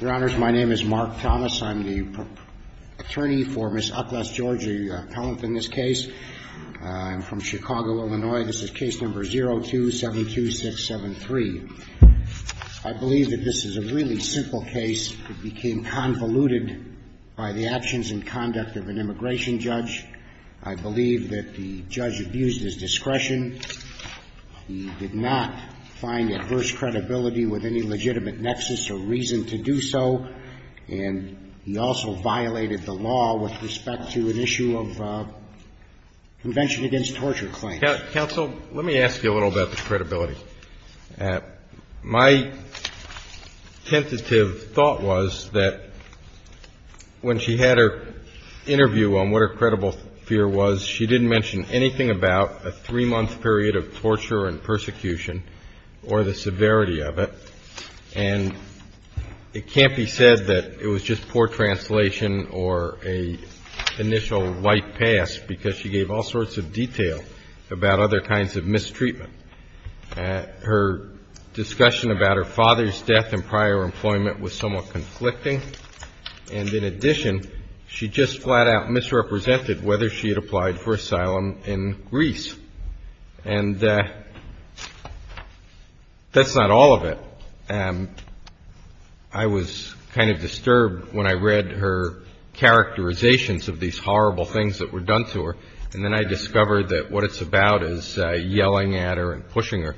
Your Honors, my name is Mark Thomas. I'm the attorney for Ms. Utless George, a appellant in this case. I'm from Chicago, Illinois. This is case number 0272673. I believe that this is a really simple case. It became convoluted by the actions and conduct of an immigration judge. I believe that the judge abused his discretion. He did not find adverse credibility with any legitimate nexus or reason to do so. And he also violated the law with respect to an issue of Convention Against Torture Claims. Counsel, let me ask you a little about the credibility. My tentative thought was that when she had her interview on what her credible fear was, she didn't mention anything about a three-month period of torture and persecution or the severity of it. And it can't be said that it was just poor translation or an initial white pass, because she gave all sorts of detail about other kinds of mistreatment. Her discussion about her father's death and prior employment was somewhat conflicting. And in addition, she just flat out misrepresented whether she had applied for asylum in Greece. And that's not all of it. I was kind of disturbed when I read her characterizations of these horrible things that were done to her. And then I discovered that what it's about is yelling at her and telling her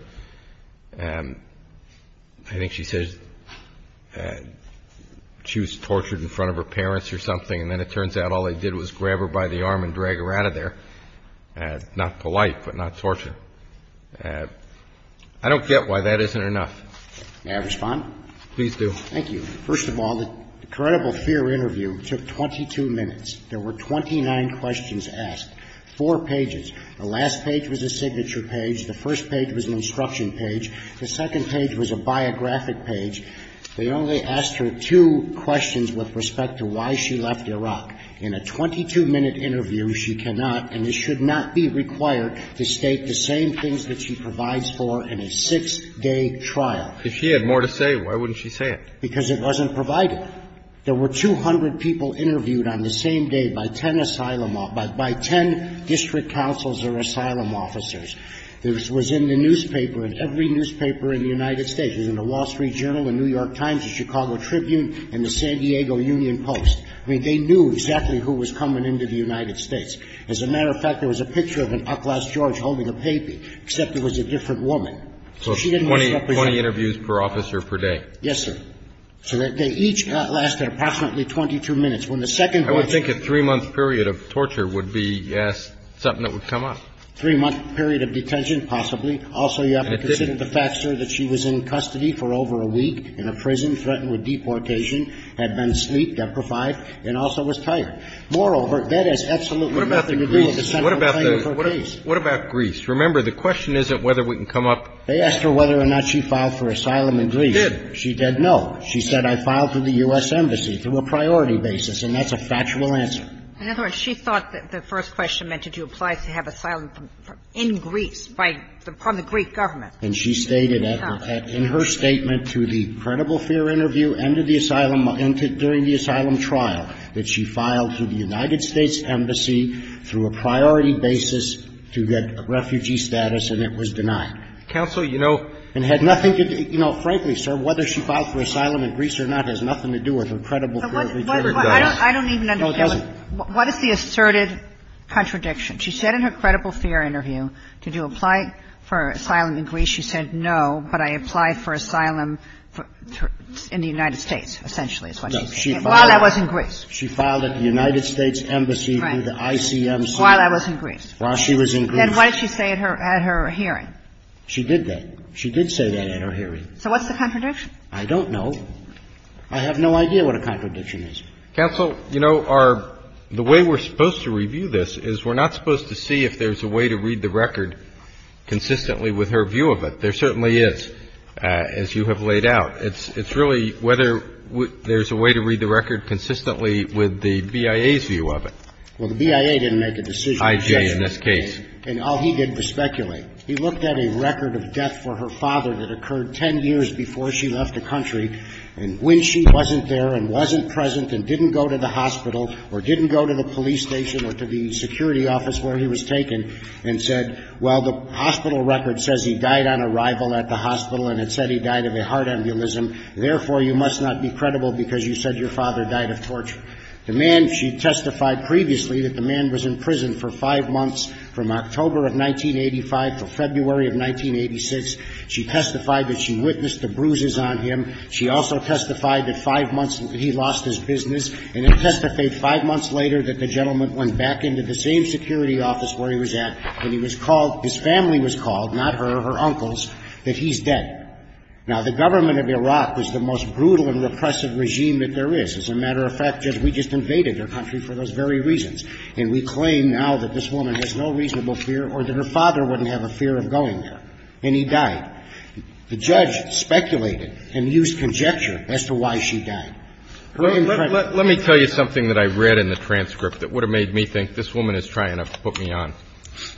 that she was tortured in front of her parents or something. And then it turns out all they did was grab her by the arm and drag her out of there. Not polite, but not torture. I don't get why that isn't enough. May I respond? Please do. Thank you. First of all, the credible fear interview took 22 minutes. There were 29 questions asked, four pages. The last page was a signature page. The first page was an instruction page. The second page was a biographic page. They only asked her two questions with respect to why she left Iraq. In a 22-minute interview, she cannot, and it should not be required, to state the same things that she provides for in a six-day trial. If she had more to say, why wouldn't she say it? Because it wasn't provided. There were 200 people interviewed on the same day by ten district councils or asylum officers. It was in the newspaper, in every newspaper in the United States. It was in the Wall Street Journal, the New York Times, the Chicago Tribune, and the San Diego Union Post. I mean, they knew exactly who was coming into the United States. As a matter of fact, there was a picture of an uglass George holding a baby, except it was a different woman. So she didn't represent them. So 20 interviews per officer per day. Yes, sir. So they each lasted approximately 22 minutes. I would think a three-month period of torture would be, yes, something that would come up. Three-month period of detention, possibly. Also, you have to consider the fact, sir, that she was in custody for over a week in a prison, threatened with deportation, had been sleep-deprived, and also was tired. Moreover, that has absolutely nothing to do with the central claim of her case. What about Greece? Remember, the question isn't whether we can come up. They asked her whether or not she filed for asylum in Greece. She did. She did no. She said, I filed for the U.S. Embassy through a priority basis. And that's a factual answer. In other words, she thought that the first question meant to do applies to have asylum in Greece by the Greek government. And she stated in her statement to the credible fear interview and to the asylum during the asylum trial that she filed for the United States Embassy through a priority basis to get refugee status, and it was denied. Counsel, you know. And had nothing to do, you know, frankly, sir, whether she filed for asylum in Greece or not has nothing to do with her credible fear interview. No, it doesn't. I don't even understand. What is the asserted contradiction? She said in her credible fear interview, did you apply for asylum in Greece? She said, no, but I applied for asylum in the United States, essentially, is what she said. While I was in Greece. She filed at the United States Embassy through the ICMC. Right. While I was in Greece. While she was in Greece. Then what did she say at her hearing? She did that. She did say that at her hearing. So what's the contradiction? I don't know. I have no idea what a contradiction is. Counsel, you know, the way we're supposed to review this is we're not supposed to see if there's a way to read the record consistently with her view of it. There certainly is, as you have laid out. It's really whether there's a way to read the record consistently with the BIA's view of it. Well, the BIA didn't make a decision. I.J., in this case. And all he did was speculate. He looked at a record of death for her father that occurred ten years before she left the country. And when she wasn't there and wasn't present and didn't go to the hospital or didn't go to the police station or to the security office where he was taken and said, well, the hospital record says he died on arrival at the hospital and it said he died of a heart embolism. Therefore, you must not be credible because you said your father died of torture. The man, she testified previously that the man was in prison for five months from October of 1985 until February of 1986. She testified that she witnessed the bruises on him. She also testified that five months he lost his business. And then testified five months later that the gentleman went back into the same security office where he was at and he was called, his family was called, not her, her uncles, that he's dead. Now, the government of Iraq is the most brutal and repressive regime that there is. As a matter of fact, we just invaded their country for those very reasons. And we claim now that this woman has no reasonable fear or that her father wouldn't have a fear of going there. And he died. The judge speculated and used conjecture as to why she died. Let me tell you something that I read in the transcript that would have made me think this woman is trying to put me on.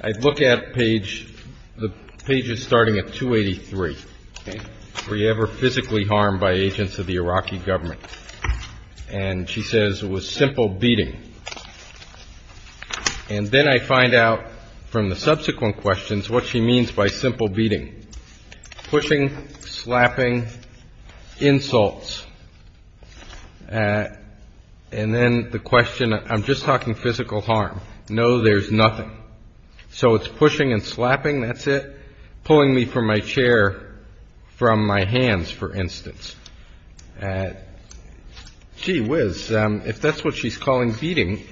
I look at page, the page is starting at 283. Okay. Were you ever physically harmed by agents of the Iraqi government? And she says it was simple beating. And then I find out from the subsequent questions what she means by simple beating. Pushing, slapping, insults. And then the question, I'm just talking physical harm. No, there's nothing. So it's pushing and slapping, that's it. Pulling me from my chair from my hands, for instance. Gee whiz, if that's what she's calling beating,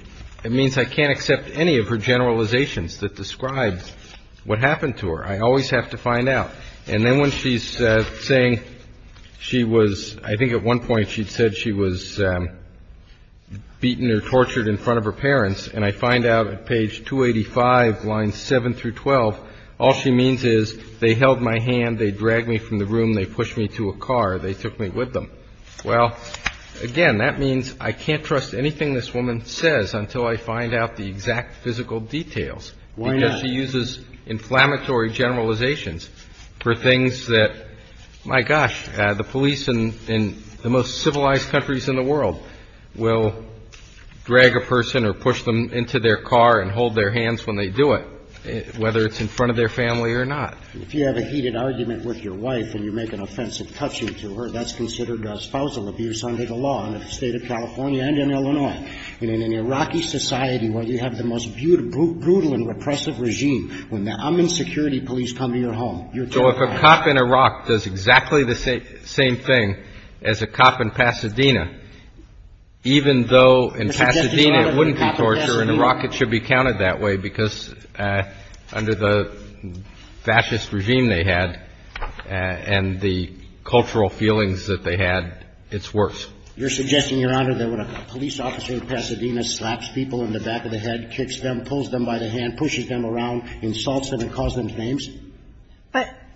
it means I can't accept any of her generalizations that describe what happened to her. I always have to find out. And then when she's saying she was, I think at one point she said she was beaten or tortured in front of her parents. And I find out at page 285, lines 7 through 12, all she means is they held my hand, they dragged me from the room, they pushed me to a car, they took me with them. Well, again, that means I can't trust anything this woman says until I find out the exact physical details. Why not? Because she uses inflammatory generalizations for things that, my gosh, the police in the most civilized countries in the world will drag a person or push them into their car and hold their hands when they do it, whether it's in front of their family or not. If you have a heated argument with your wife and you make an offensive touching to her, that's considered spousal abuse under the law in the State of California and in Illinois. In an Iraqi society where you have the most brutal and repressive regime, when the Amman security police come to your home, you tell them that. So if a cop in Iraq does exactly the same thing as a cop in Pasadena, even though in Pasadena it wouldn't be torture, in Iraq it should be counted that way because under the fascist regime they had and the cultural feelings that they had, it's worse. You're suggesting, Your Honor, that when a police officer in Pasadena slaps people in the back of the head, kicks them, pulls them by the hand, pushes them around, insults them and calls them names?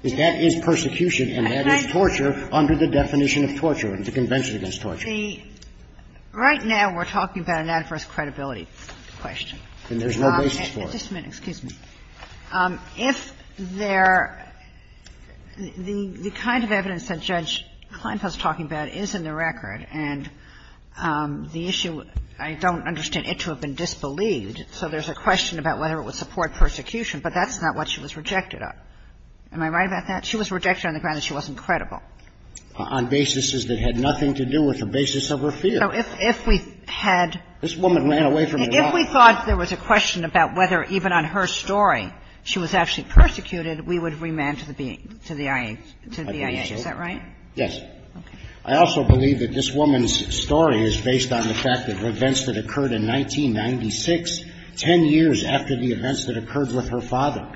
That is persecution and that is torture under the definition of torture and the Convention Against Torture. Right now we're talking about an adverse credibility question. And there's no basis for it. Just a minute. Excuse me. If there the kind of evidence that Judge Kleinfeld is talking about is in the record and the issue, I don't understand it to have been disbelieved, so there's a question about whether it would support persecution, but that's not what she was rejected of. Am I right about that? She was rejected on the ground that she wasn't credible. On basis that had nothing to do with the basis of her fear. So if we had – This woman ran away from Iraq. If we thought there was a question about whether even on her story she was actually persecuted, we would remand to the BIA. I believe so. Is that right? Okay. I also believe that this woman's story is based on the fact that events that occurred in 1996, 10 years after the events that occurred with her father.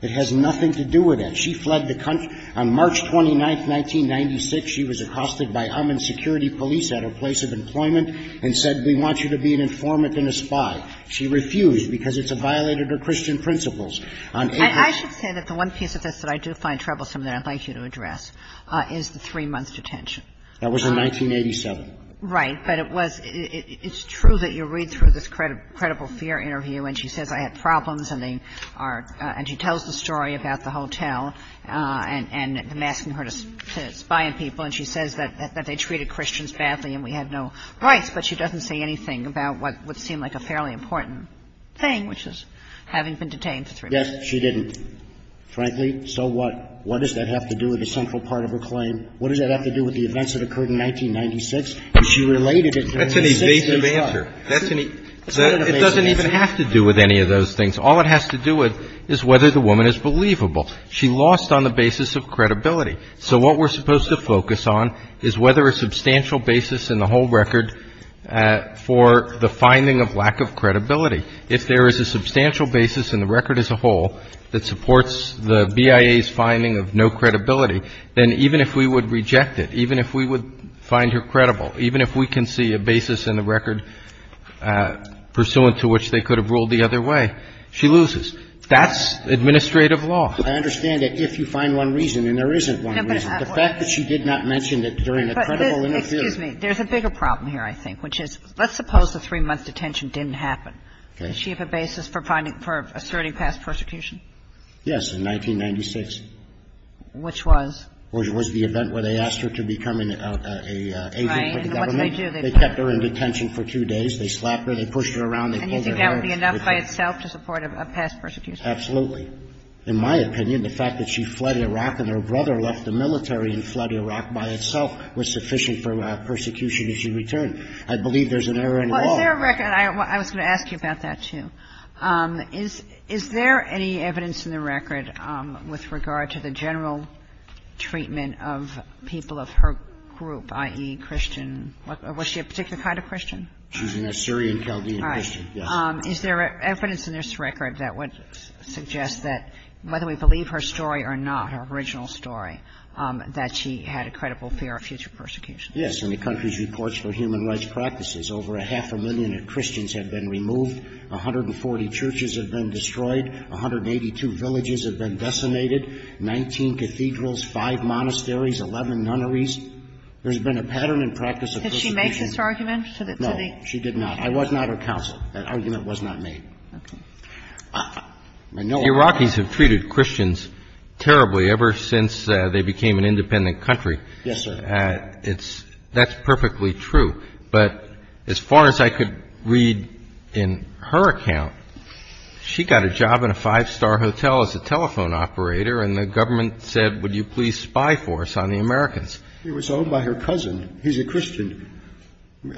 It has nothing to do with it. She fled the country. On March 29, 1996, she was accosted by Amman security police at her place of employment and said, we want you to be an informant and a spy. She refused because it's a violation of Christian principles. On April – I should say that the one piece of this that I do find troublesome that I'd like you to address is the three-month detention. That was in 1987. Right. But it was – it's true that you read through this credible fear interview and she says, I had problems and they are – and she tells the story about the hotel and them asking her to spy on people. And she says that they treated Christians badly and we had no rights. But she doesn't say anything about what would seem like a fairly important thing, which is having been detained for three months. Yes, she didn't, frankly. So what? What does that have to do with the central part of her claim? What does that have to do with the events that occurred in 1996? And she related it to – That's an evasive answer. That's an evasive answer. It doesn't even have to do with any of those things. All it has to do with is whether the woman is believable. She lost on the basis of credibility. So what we're supposed to focus on is whether a substantial basis in the whole record for the finding of lack of credibility. If there is a substantial basis in the record as a whole that supports the BIA's finding of no credibility, then even if we would reject it, even if we would find her credible, even if we can see a basis in the record pursuant to which they could have ruled the other way, she loses. That's administrative law. I understand that if you find one reason and there isn't one reason. The fact that she did not mention that during the credible interference Excuse me. There's a bigger problem here, I think, which is let's suppose the three-month detention didn't happen. Does she have a basis for finding – for asserting past persecution? Yes, in 1996. Which was? Which was the event where they asked her to become an agent for the government. Right. And what did they do? They kept her in detention for two days. They slapped her. They pushed her around. They pulled her hair. And you think that would be enough by itself to support a past persecution? Absolutely. In my opinion, the fact that she fled Iraq and her brother left the military and fled Iraq by itself was sufficient for persecution if she returned. I believe there's an error in the law. Well, is there a record – I was going to ask you about that, too. Is there any evidence in the record with regard to the general treatment of people of her group, i.e., Christian – was she a particular kind of Christian? She's an Assyrian Chaldean Christian, yes. Is there evidence in this record that would suggest that whether we believe her story or not, her original story, that she had a credible fear of future persecution? Yes. In the country's reports for human rights practices, over a half a million Christians had been removed, 140 churches had been destroyed, 182 villages had been decimated, 19 cathedrals, 5 monasteries, 11 nunneries. There's been a pattern and practice of persecution. Did she make this argument? No, she did not. I was not her counsel. That argument was not made. Okay. The Iraqis have treated Christians terribly ever since they became an independent country. Yes, sir. That's perfectly true. But as far as I could read in her account, she got a job in a five-star hotel as a telephone operator, and the government said, would you please spy for us on the Americans? She was owned by her cousin. He's a Christian.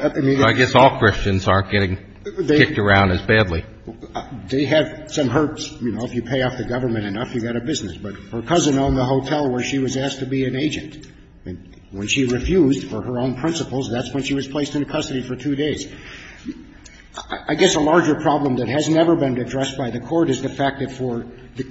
I guess all Christians aren't getting kicked around as badly. They have some hurts. You know, if you pay off the government enough, you've got a business. But her cousin owned the hotel where she was asked to be an agent. When she refused for her own principles, that's when she was placed into custody for two days. I guess a larger problem that has never been addressed by the Court is the fact that for the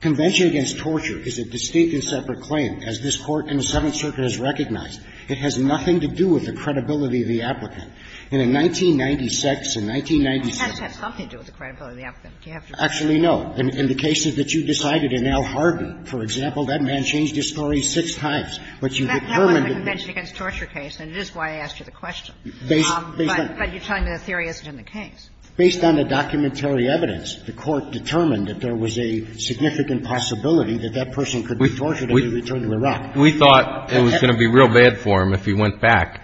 Convention Against Torture is a distinct and separate claim. As this Court in the Seventh Circuit has recognized, it has nothing to do with the credibility of the applicant. In a 1996 and 1996 case. It has something to do with the credibility of the applicant. Do you have to agree? Actually, no. In the cases that you decided in Al Harden, for example, that man changed his story six times. But you determined that. That wasn't a Convention Against Torture case, and it is why I asked you the question. Based on. But you're telling me the theory isn't in the case. Based on the documentary evidence, the Court determined that there was a significant possibility that that person could be tortured and be returned to Iraq. We thought it was going to be real bad for him if he went back,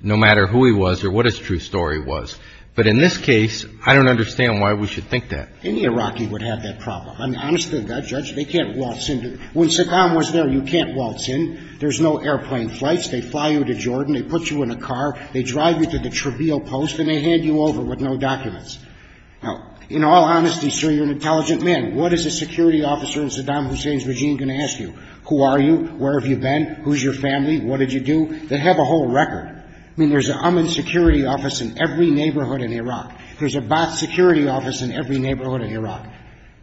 no matter who he was or what his true story was. But in this case, I don't understand why we should think that. Any Iraqi would have that problem. I'm honest with that, Judge. They can't waltz in. When Saddam was there, you can't waltz in. There's no airplane flights. They fly you to Jordan. They put you in a car. They drive you to the trivial post, and they hand you over with no documents. Now, in all honesty, sir, you're an intelligent man. What is a security officer in Saddam Hussein's regime going to ask you? Who are you? Where have you been? Who's your family? What did you do? They have a whole record. I mean, there's an Amman security office in every neighborhood in Iraq. There's a Baath security office in every neighborhood in Iraq.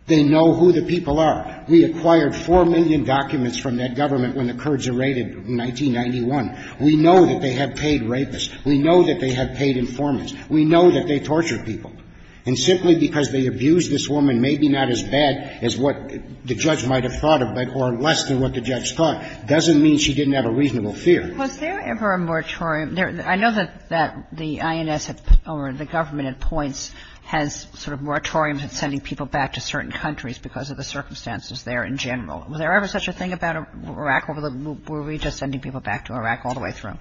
They know who the people are. We acquired 4 million documents from that government when the Kurds were raided in 1991. We know that they have paid rapists. We know that they have paid informants. We know that they torture people. And simply because they abused this woman, maybe not as bad as what the judge might have thought of, but or less than what the judge thought, doesn't mean she didn't have a reasonable fear. Was there ever a moratorium? I know that the INS or the government at points has sort of moratoriums on sending people back to certain countries because of the circumstances there in general. Was there ever such a thing about Iraq? Or were we just sending people back to Iraq all the way through?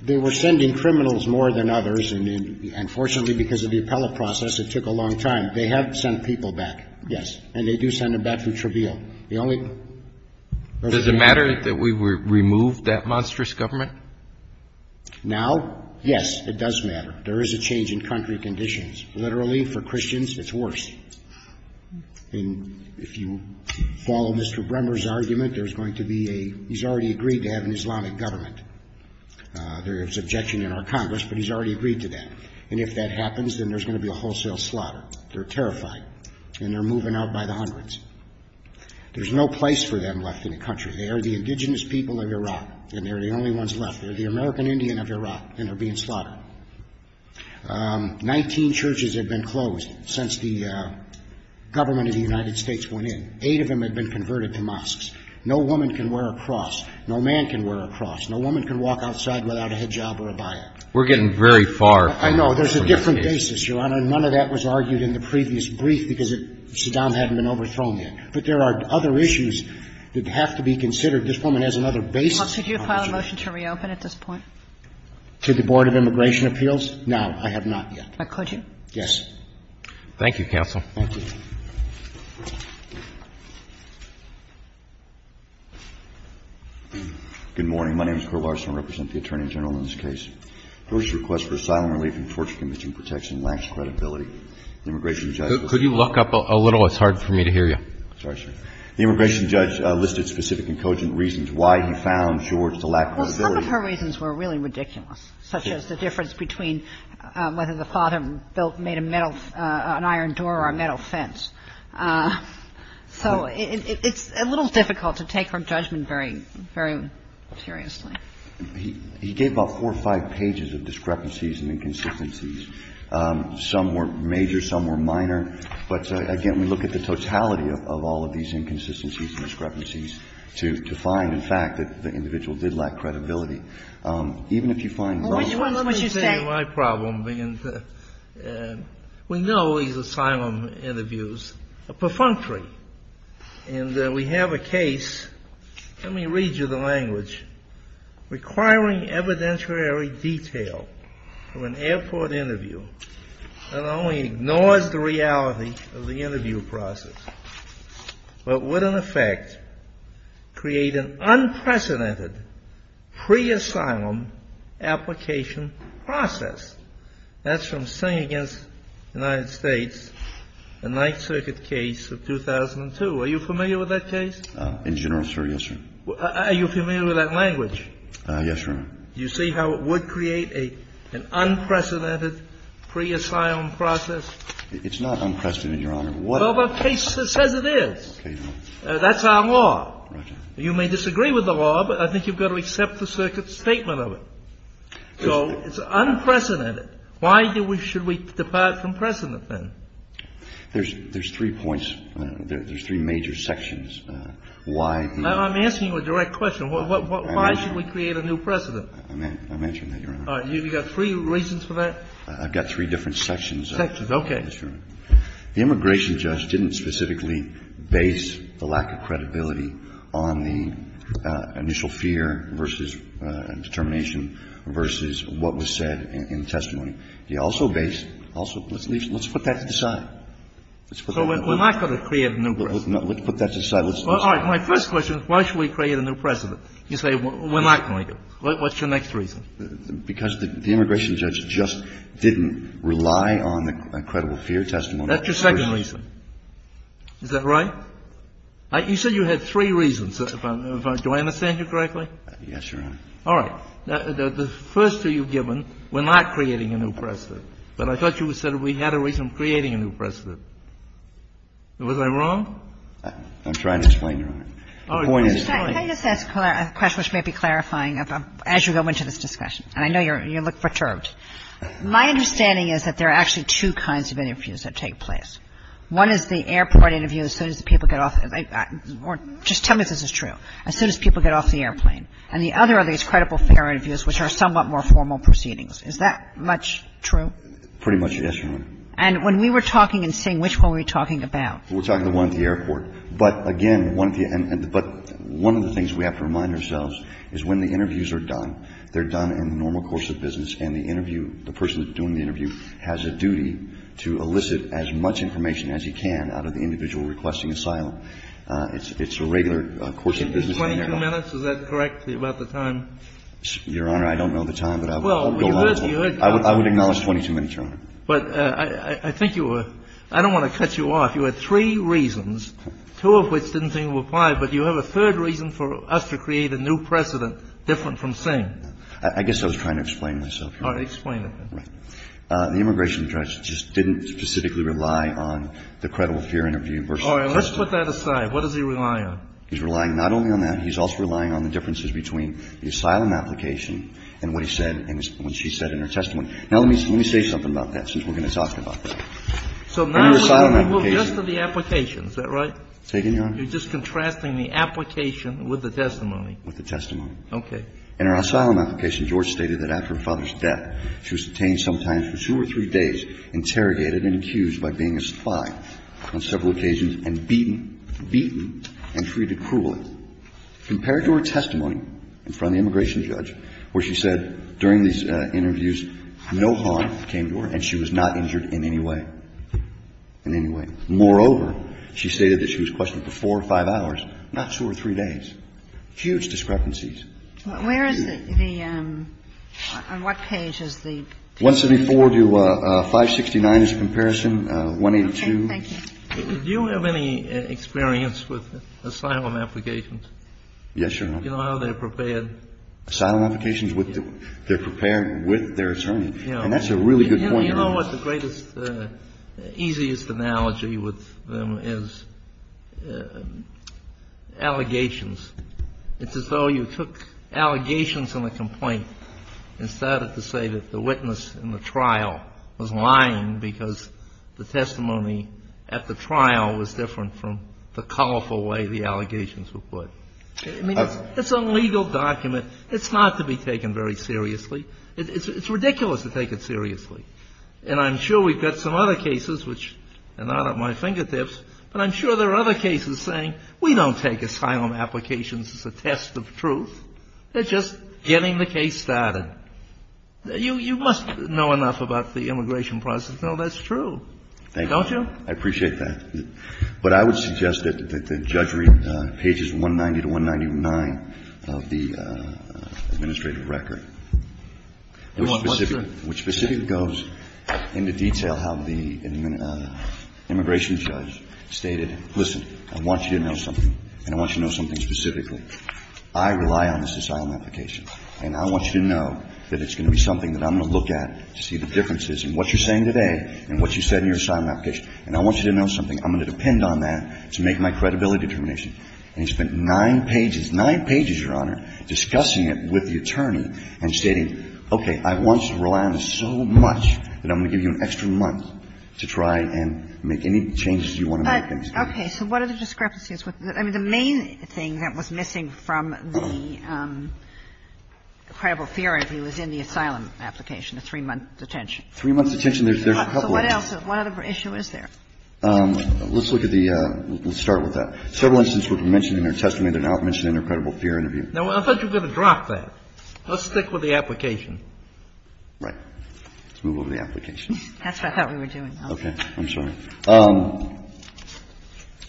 They were sending criminals more than others. And fortunately, because of the appellate process, it took a long time. They have sent people back, yes. And they do send them back for trivial. Does it matter that we removed that monstrous government? Now, yes, it does matter. There is a change in country conditions. Literally, for Christians, it's worse. And if you follow Mr. Bremmer's argument, there's going to be a he's already agreed to have an Islamic government. There is objection in our Congress, but he's already agreed to that. And if that happens, then there's going to be a wholesale slaughter. They're terrified. And they're moving out by the hundreds. There's no place for them left in the country. They are the indigenous people of Iraq, and they're the only ones left. They're the American Indian of Iraq, and they're being slaughtered. Nineteen churches have been closed since the government of the United States went in. Eight of them have been converted to mosques. No woman can wear a cross. No man can wear a cross. No woman can walk outside without a hijab or a bayat. We're getting very far from that. I know. There's a different basis, Your Honor. None of that was argued in the previous brief because Saddam hadn't been overthrown yet. But there are other issues that have to be considered. This woman has another basis. Could you file a motion to reopen at this point? To the Board of Immigration Appeals? No, I have not yet. But could you? Yes. Thank you, counsel. Thank you. Good morning. My name is Kurt Larson. I represent the Attorney General in this case. My question is about George's request for asylum relief. George's request for asylum relief and torture conviction protection lacks credibility. The immigration judge was ---- Could you look up a little? It's hard for me to hear you. Sorry, sir. The immigration judge listed specific and cogent reasons why he found George to lack credibility. Well, some of her reasons were really ridiculous, such as the difference between whether the father built ñ made a metal ñ an iron door or a metal fence. So it's a little difficult to take her judgment very seriously. He gave about four or five pages of discrepancies and inconsistencies. Some were major. Some were minor. But, again, we look at the totality of all of these inconsistencies and discrepancies to find, in fact, that the individual did lack credibility. Even if you find ñ Let me just say my problem. We know these asylum interviews are perfunctory. And we have a case ñ let me read you the language. Requiring evidentiary detail of an airport interview not only ignores the reality of the interview process, but would, in effect, create an unprecedented pre-asylum application process. That's from Sing Against the United States, the Ninth Circuit case of 2002. Are you familiar with that case? In general, sir, yes, Your Honor. Are you familiar with that language? Yes, Your Honor. Do you see how it would create an unprecedented pre-asylum process? It's not unprecedented, Your Honor. Well, the case says it is. That's our law. You may disagree with the law, but I think you've got to accept the Circuit's statement of it. So it's unprecedented. Why should we depart from precedent, then? There's three points. There's three major sections. Now, I'm asking you a direct question. Why should we create a new precedent? I'm answering that, Your Honor. All right. You've got three reasons for that? I've got three different sections. Sections, okay. First of all, the immigration judge didn't specifically base the lack of credibility on the initial fear versus determination versus what was said in the testimony. He also based, also, let's put that to the side. So we're not going to create a new precedent. Let's put that to the side. All right. My first question is why should we create a new precedent? You say we're not going to. What's your next reason? Because the immigration judge just didn't rely on the credible fear testimony. That's your second reason. Is that right? You said you had three reasons. Do I understand you correctly? Yes, Your Honor. All right. The first two you've given, we're not creating a new precedent, but I thought you said we had a reason for creating a new precedent. Was I wrong? I'm trying to explain, Your Honor. The point is to explain. Can I just ask a question which may be clarifying as you go into this discussion? And I know you look perturbed. My understanding is that there are actually two kinds of interviews that take place. One is the airport interview as soon as the people get off. Just tell me if this is true. As soon as people get off the airplane. And the other are these credible fear interviews, which are somewhat more formal proceedings. Is that much true? Pretty much, yes, Your Honor. And when we were talking in Sing, which one were we talking about? We're talking the one at the airport. But again, one of the things we have to remind ourselves is when the interviews are done, they're done in the normal course of business, and the interview, the person doing the interview has a duty to elicit as much information as he can out of the individual requesting asylum. It's a regular course of business. 22 minutes, is that correct, about the time? Your Honor, I don't know the time, but I will go on. I would acknowledge 22 minutes, Your Honor. But I think you were – I don't want to cut you off. You had three reasons, two of which didn't seem to apply, but you have a third reason for us to create a new precedent different from Sing. I guess I was trying to explain myself, Your Honor. All right. Explain it then. Right. The immigration judge just didn't specifically rely on the credible fear interview versus the testimony. All right. Let's put that aside. What does he rely on? He's relying not only on that. He's also relying on the differences between the asylum application and what he said and what she said in her testimony. Now, let me say something about that since we're going to talk about that. So now we're going to move just to the application, is that right? Take it, Your Honor. You're just contrasting the application with the testimony. With the testimony. Okay. In her asylum application, George stated that after her father's death, she was detained sometimes for two or three days, interrogated and accused by being a spy on several occasions, and beaten, beaten and treated cruelly. Compare it to her testimony in front of the immigration judge where she said during these interviews, no harm came to her and she was not injured in any way, in any way. Moreover, she stated that she was questioned for four or five hours, not two or three days. Huge discrepancies. Where is the – on what page is the? 174 to 569 is the comparison, 182. Okay. Thank you. Do you have any experience with asylum applications? Yes, Your Honor. Do you know how they're prepared? Asylum applications? They're prepared with their attorney. And that's a really good point, Your Honor. You know what the greatest, easiest analogy with them is? Allegations. It's as though you took allegations in a complaint and started to say that the witness in the trial was lying because the testimony at the trial was different from the colorful way the allegations were put. I mean, it's a legal document. It's not to be taken very seriously. It's ridiculous to take it seriously. And I'm sure we've got some other cases which are not at my fingertips, but I'm sure there are other cases saying we don't take asylum applications as a test of truth. They're just getting the case started. You must know enough about the immigration process to know that's true. Thank you. I appreciate that. But I would suggest that the judge read pages 190 to 199 of the administrative record, which specifically goes into detail how the immigration judge stated, listen, I want you to know something, and I want you to know something specifically. I rely on this asylum application, and I want you to know that it's going to be something that I'm going to look at to see the differences in what you're saying today and what you said in your asylum application. And I want you to know something. I'm going to depend on that to make my credibility determination. And he spent nine pages, nine pages, Your Honor, discussing it with the attorney and stating, okay, I want you to rely on this so much that I'm going to give you an extra month to try and make any changes you want to make. Okay. So what are the discrepancies? I mean, the main thing that was missing from the credible theory was in the asylum application, a three-month detention. Three-month detention, there's a couple. So what else? What other issue is there? Let's look at the – let's start with that. Several instances were mentioned in her testimony. They're not mentioned in her credible fear interview. Now, I thought you were going to drop that. Let's stick with the application. Right. Let's move over to the application. That's what I thought we were doing, though. Okay. I'm sorry.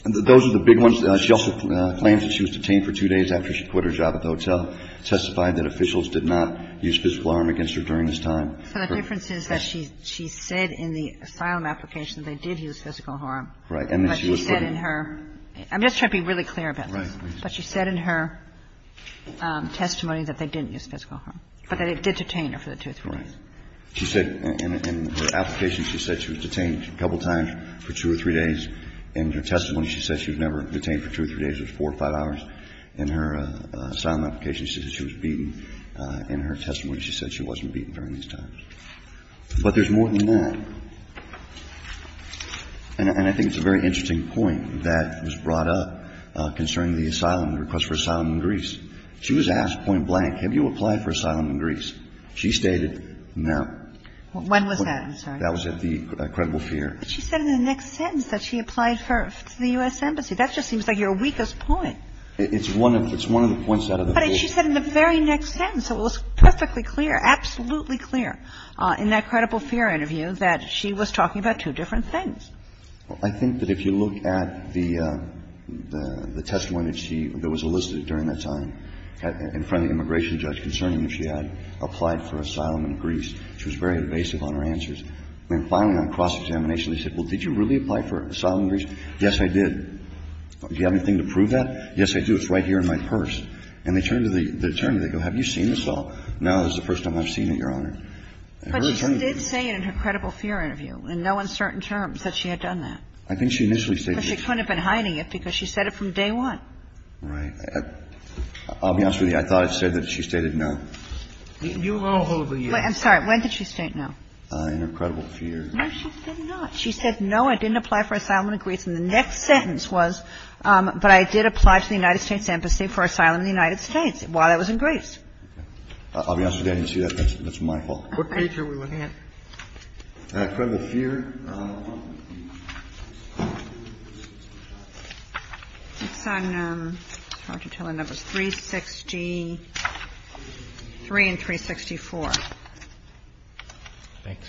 Those are the big ones. She also claims that she was detained for two days after she quit her job at the hotel. Testified that officials did not use physical harm against her during this time. So the difference is that she said in the asylum application they did use physical harm, but she said in her – I'm just trying to be really clear about this. Right. But she said in her testimony that they didn't use physical harm, but that it did detain her for the two or three days. Right. She said in her application she said she was detained a couple of times for two or three days. In her testimony, she said she was never detained for two or three days. It was four or five hours. In her asylum application, she said she was beaten. In her testimony, she said she wasn't beaten during these times. But there's more than that. And I think it's a very interesting point that was brought up concerning the asylum – the request for asylum in Greece. She was asked point blank, have you applied for asylum in Greece? She stated no. When was that? I'm sorry. That was at the credible fair. But she said in the next sentence that she applied to the U.S. Embassy. That just seems like your weakest point. It's one of the points out of the whole. But she said in the very next sentence. It was perfectly clear, absolutely clear in that credible fair interview that she was talking about two different things. Well, I think that if you look at the testimony that she – that was elicited during that time in front of the immigration judge concerning her, she had applied for asylum in Greece. She was very invasive on her answers. And finally, on cross-examination, they said, well, did you really apply for asylum in Greece? Yes, I did. Do you have anything to prove that? Yes, I do. It's right here in my purse. And they turn to the attorney. They go, have you seen this all? No, this is the first time I've seen it, Your Honor. But she did say in her credible fair interview, in no uncertain terms, that she had done that. I think she initially stated that. But she couldn't have been hiding it because she said it from day one. Right. I'll be honest with you. I thought it said that she stated no. You all hold the U.S. I'm sorry. When did she state no? In her credible fair. No, she did not. She said, no, I didn't apply for asylum in Greece. And the next sentence was, but I did apply to the United States embassy for asylum in the United States while I was in Greece. I'll be honest with you, I didn't see that. That's my fault. What page are we looking at? Credible fair. It's on, it's hard to tell the numbers, 363 and 364. Thanks.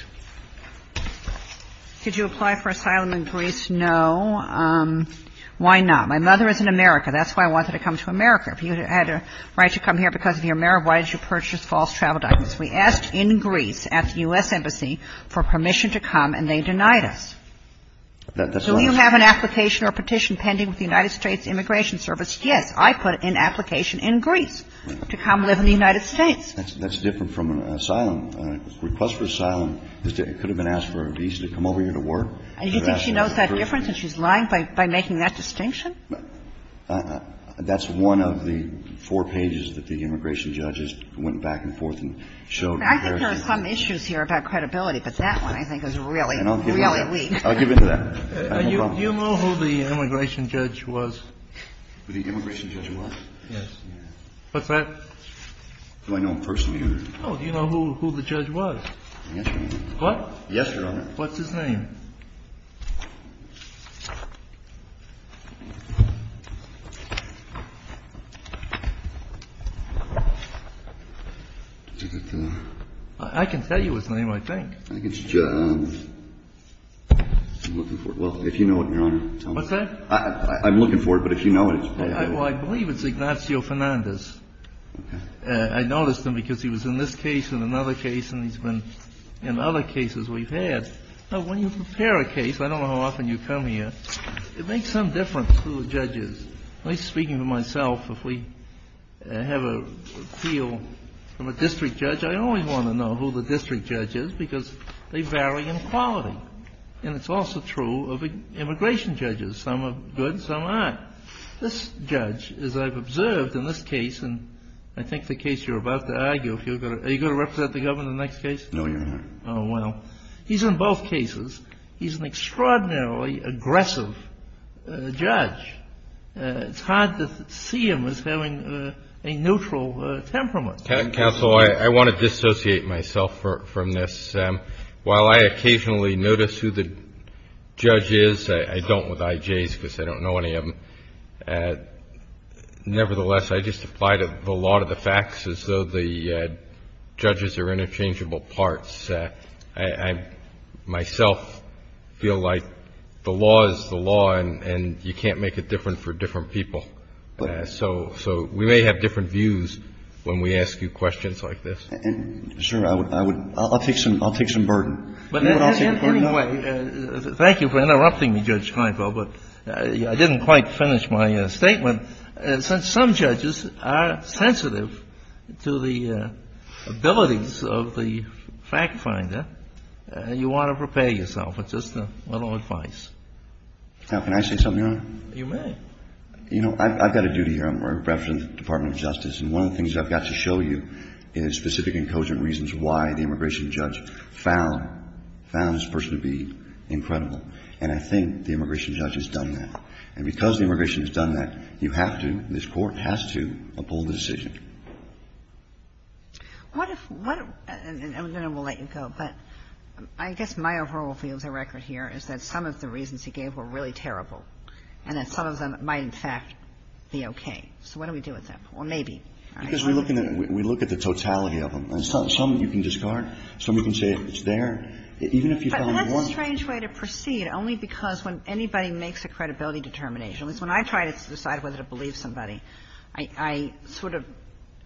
Did you apply for asylum in Greece? No. Why not? My mother is in America. That's why I wanted to come to America. If you had a right to come here because of your marriage, why did you purchase false travel documents? We asked in Greece at the U.S. embassy for permission to come, and they denied us. Do you have an application or petition pending with the United States Immigration Service? I put an application in Greece to come live in the United States. That's different from an asylum. A request for asylum could have been asked for a visa to come over here to work. Do you think she knows that difference and she's lying by making that distinction? That's one of the four pages that the immigration judges went back and forth and showed. I think there are some issues here about credibility, but that one I think is really, really weak. I'll give in to that. Do you know who the immigration judge was? Who the immigration judge was? Yes. What's that? Do I know him personally or? Do you know who the judge was? Yes, Your Honor. What? Yes, Your Honor. What's his name? I can tell you his name, I think. I'm looking for it. Well, if you know it, Your Honor. What's that? I'm looking for it, but if you know it, it's probably. Well, I believe it's Ignacio Fernandez. Okay. I noticed him because he was in this case and another case and he's been in other cases we've had. Now, when you prepare a case, I don't know how often you come here, it makes some difference who the judge is. At least speaking for myself, if we have an appeal from a district judge, I only want to know who the district judge is because they vary in quality. And it's also true of immigration judges. Some are good, some aren't. This judge, as I've observed in this case, and I think the case you're about to argue, are you going to represent the governor in the next case? No, Your Honor. Oh, well. He's in both cases. He's an extraordinarily aggressive judge. It's hard to see him as having a neutral temperament. Counsel, I want to dissociate myself from this. While I occasionally notice who the judge is, I don't with IJs because I don't know any of them, nevertheless, I just apply to a lot of the facts as though the judges are interchangeable parts. I myself feel like the law is the law and you can't make it different for different people. So we may have different views when we ask you questions like this. Sure, I'll take some burden. Anyway, thank you for interrupting me, Judge Kleinfeld, but I didn't quite finish my statement. Since some judges are sensitive to the abilities of the fact finder, you want to prepare yourself with just a little advice. Now, can I say something, Your Honor? You may. You know, I've got a duty here. I'm a reference to the Department of Justice, and one of the things I've got to show you is specific and cogent reasons why the immigration judge found this person to be incredible. And I think the immigration judge has done that. And because the immigration has done that, you have to, this Court has to, uphold the decision. What if what – and I'm going to let you go, but I guess my overall feel as a record here is that some of the reasons he gave were really terrible and that some of them might, in fact, be okay. So what do we do with them? Well, maybe. Because we're looking at – we look at the totality of them. Some you can discard. Some you can say it's there. Even if you found one. But that's a strange way to proceed, only because when anybody makes a credibility determination, at least when I try to decide whether to believe somebody, I sort of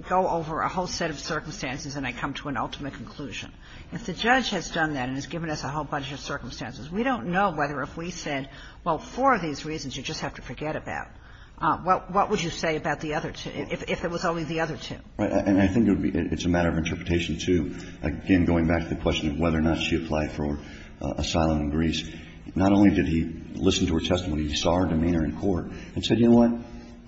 go over a whole set of circumstances and I come to an ultimate conclusion. If the judge has done that and has given us a whole bunch of circumstances, we don't know whether if we said, well, four of these reasons you just have to forget about, what would you say about the other two, if it was only the other two? Right. And I think it's a matter of interpretation, too. Again, going back to the question of whether or not she applied for asylum in Greece, not only did he listen to her testimony, he saw her demeanor in court and said, you know what,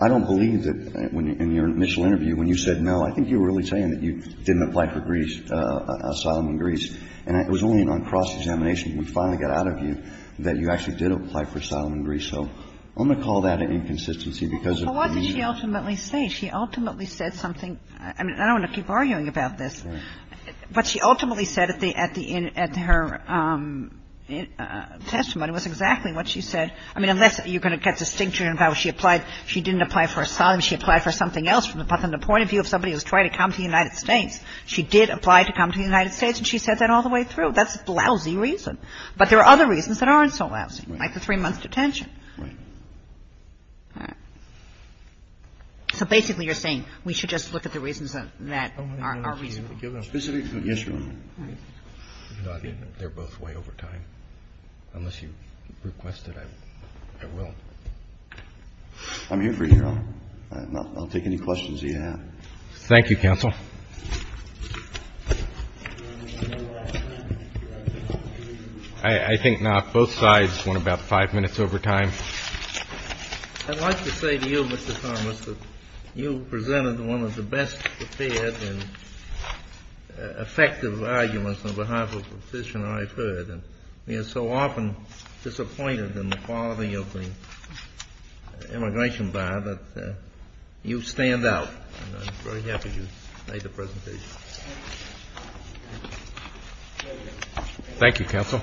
I don't believe that in your initial interview when you said no, I think you were really saying that you didn't apply for Greece, asylum in Greece. And it was only on cross-examination. We finally got out of you that you actually did apply for asylum in Greece. So I'm going to call that an inconsistency because of the reason. Well, what did she ultimately say? She ultimately said something. I mean, I don't want to keep arguing about this. Right. What she ultimately said at the end of her testimony was exactly what she said. I mean, unless you're going to get distinction about she applied, she didn't apply for asylum, she applied for something else from the point of view of somebody who was trying to come to the United States. She did apply to come to the United States and she said that all the way through. That's a lousy reason. But there are other reasons that aren't so lousy. Right. Like the three-month detention. Right. All right. So basically you're saying we should just look at the reasons that are reasonable. Specific to Israel. Right. They're both way over time. Unless you request it, I will. I'm here for you. I'll take any questions that you have. Thank you, counsel. I think both sides went about five minutes over time. I'd like to say to you, Mr. Thomas, that you presented one of the best prepared and effective arguments on behalf of a petitioner I've heard. And we are so often disappointed in the quality of the immigration bar that you stand out. And I'm very happy you made the presentation. Thank you, counsel.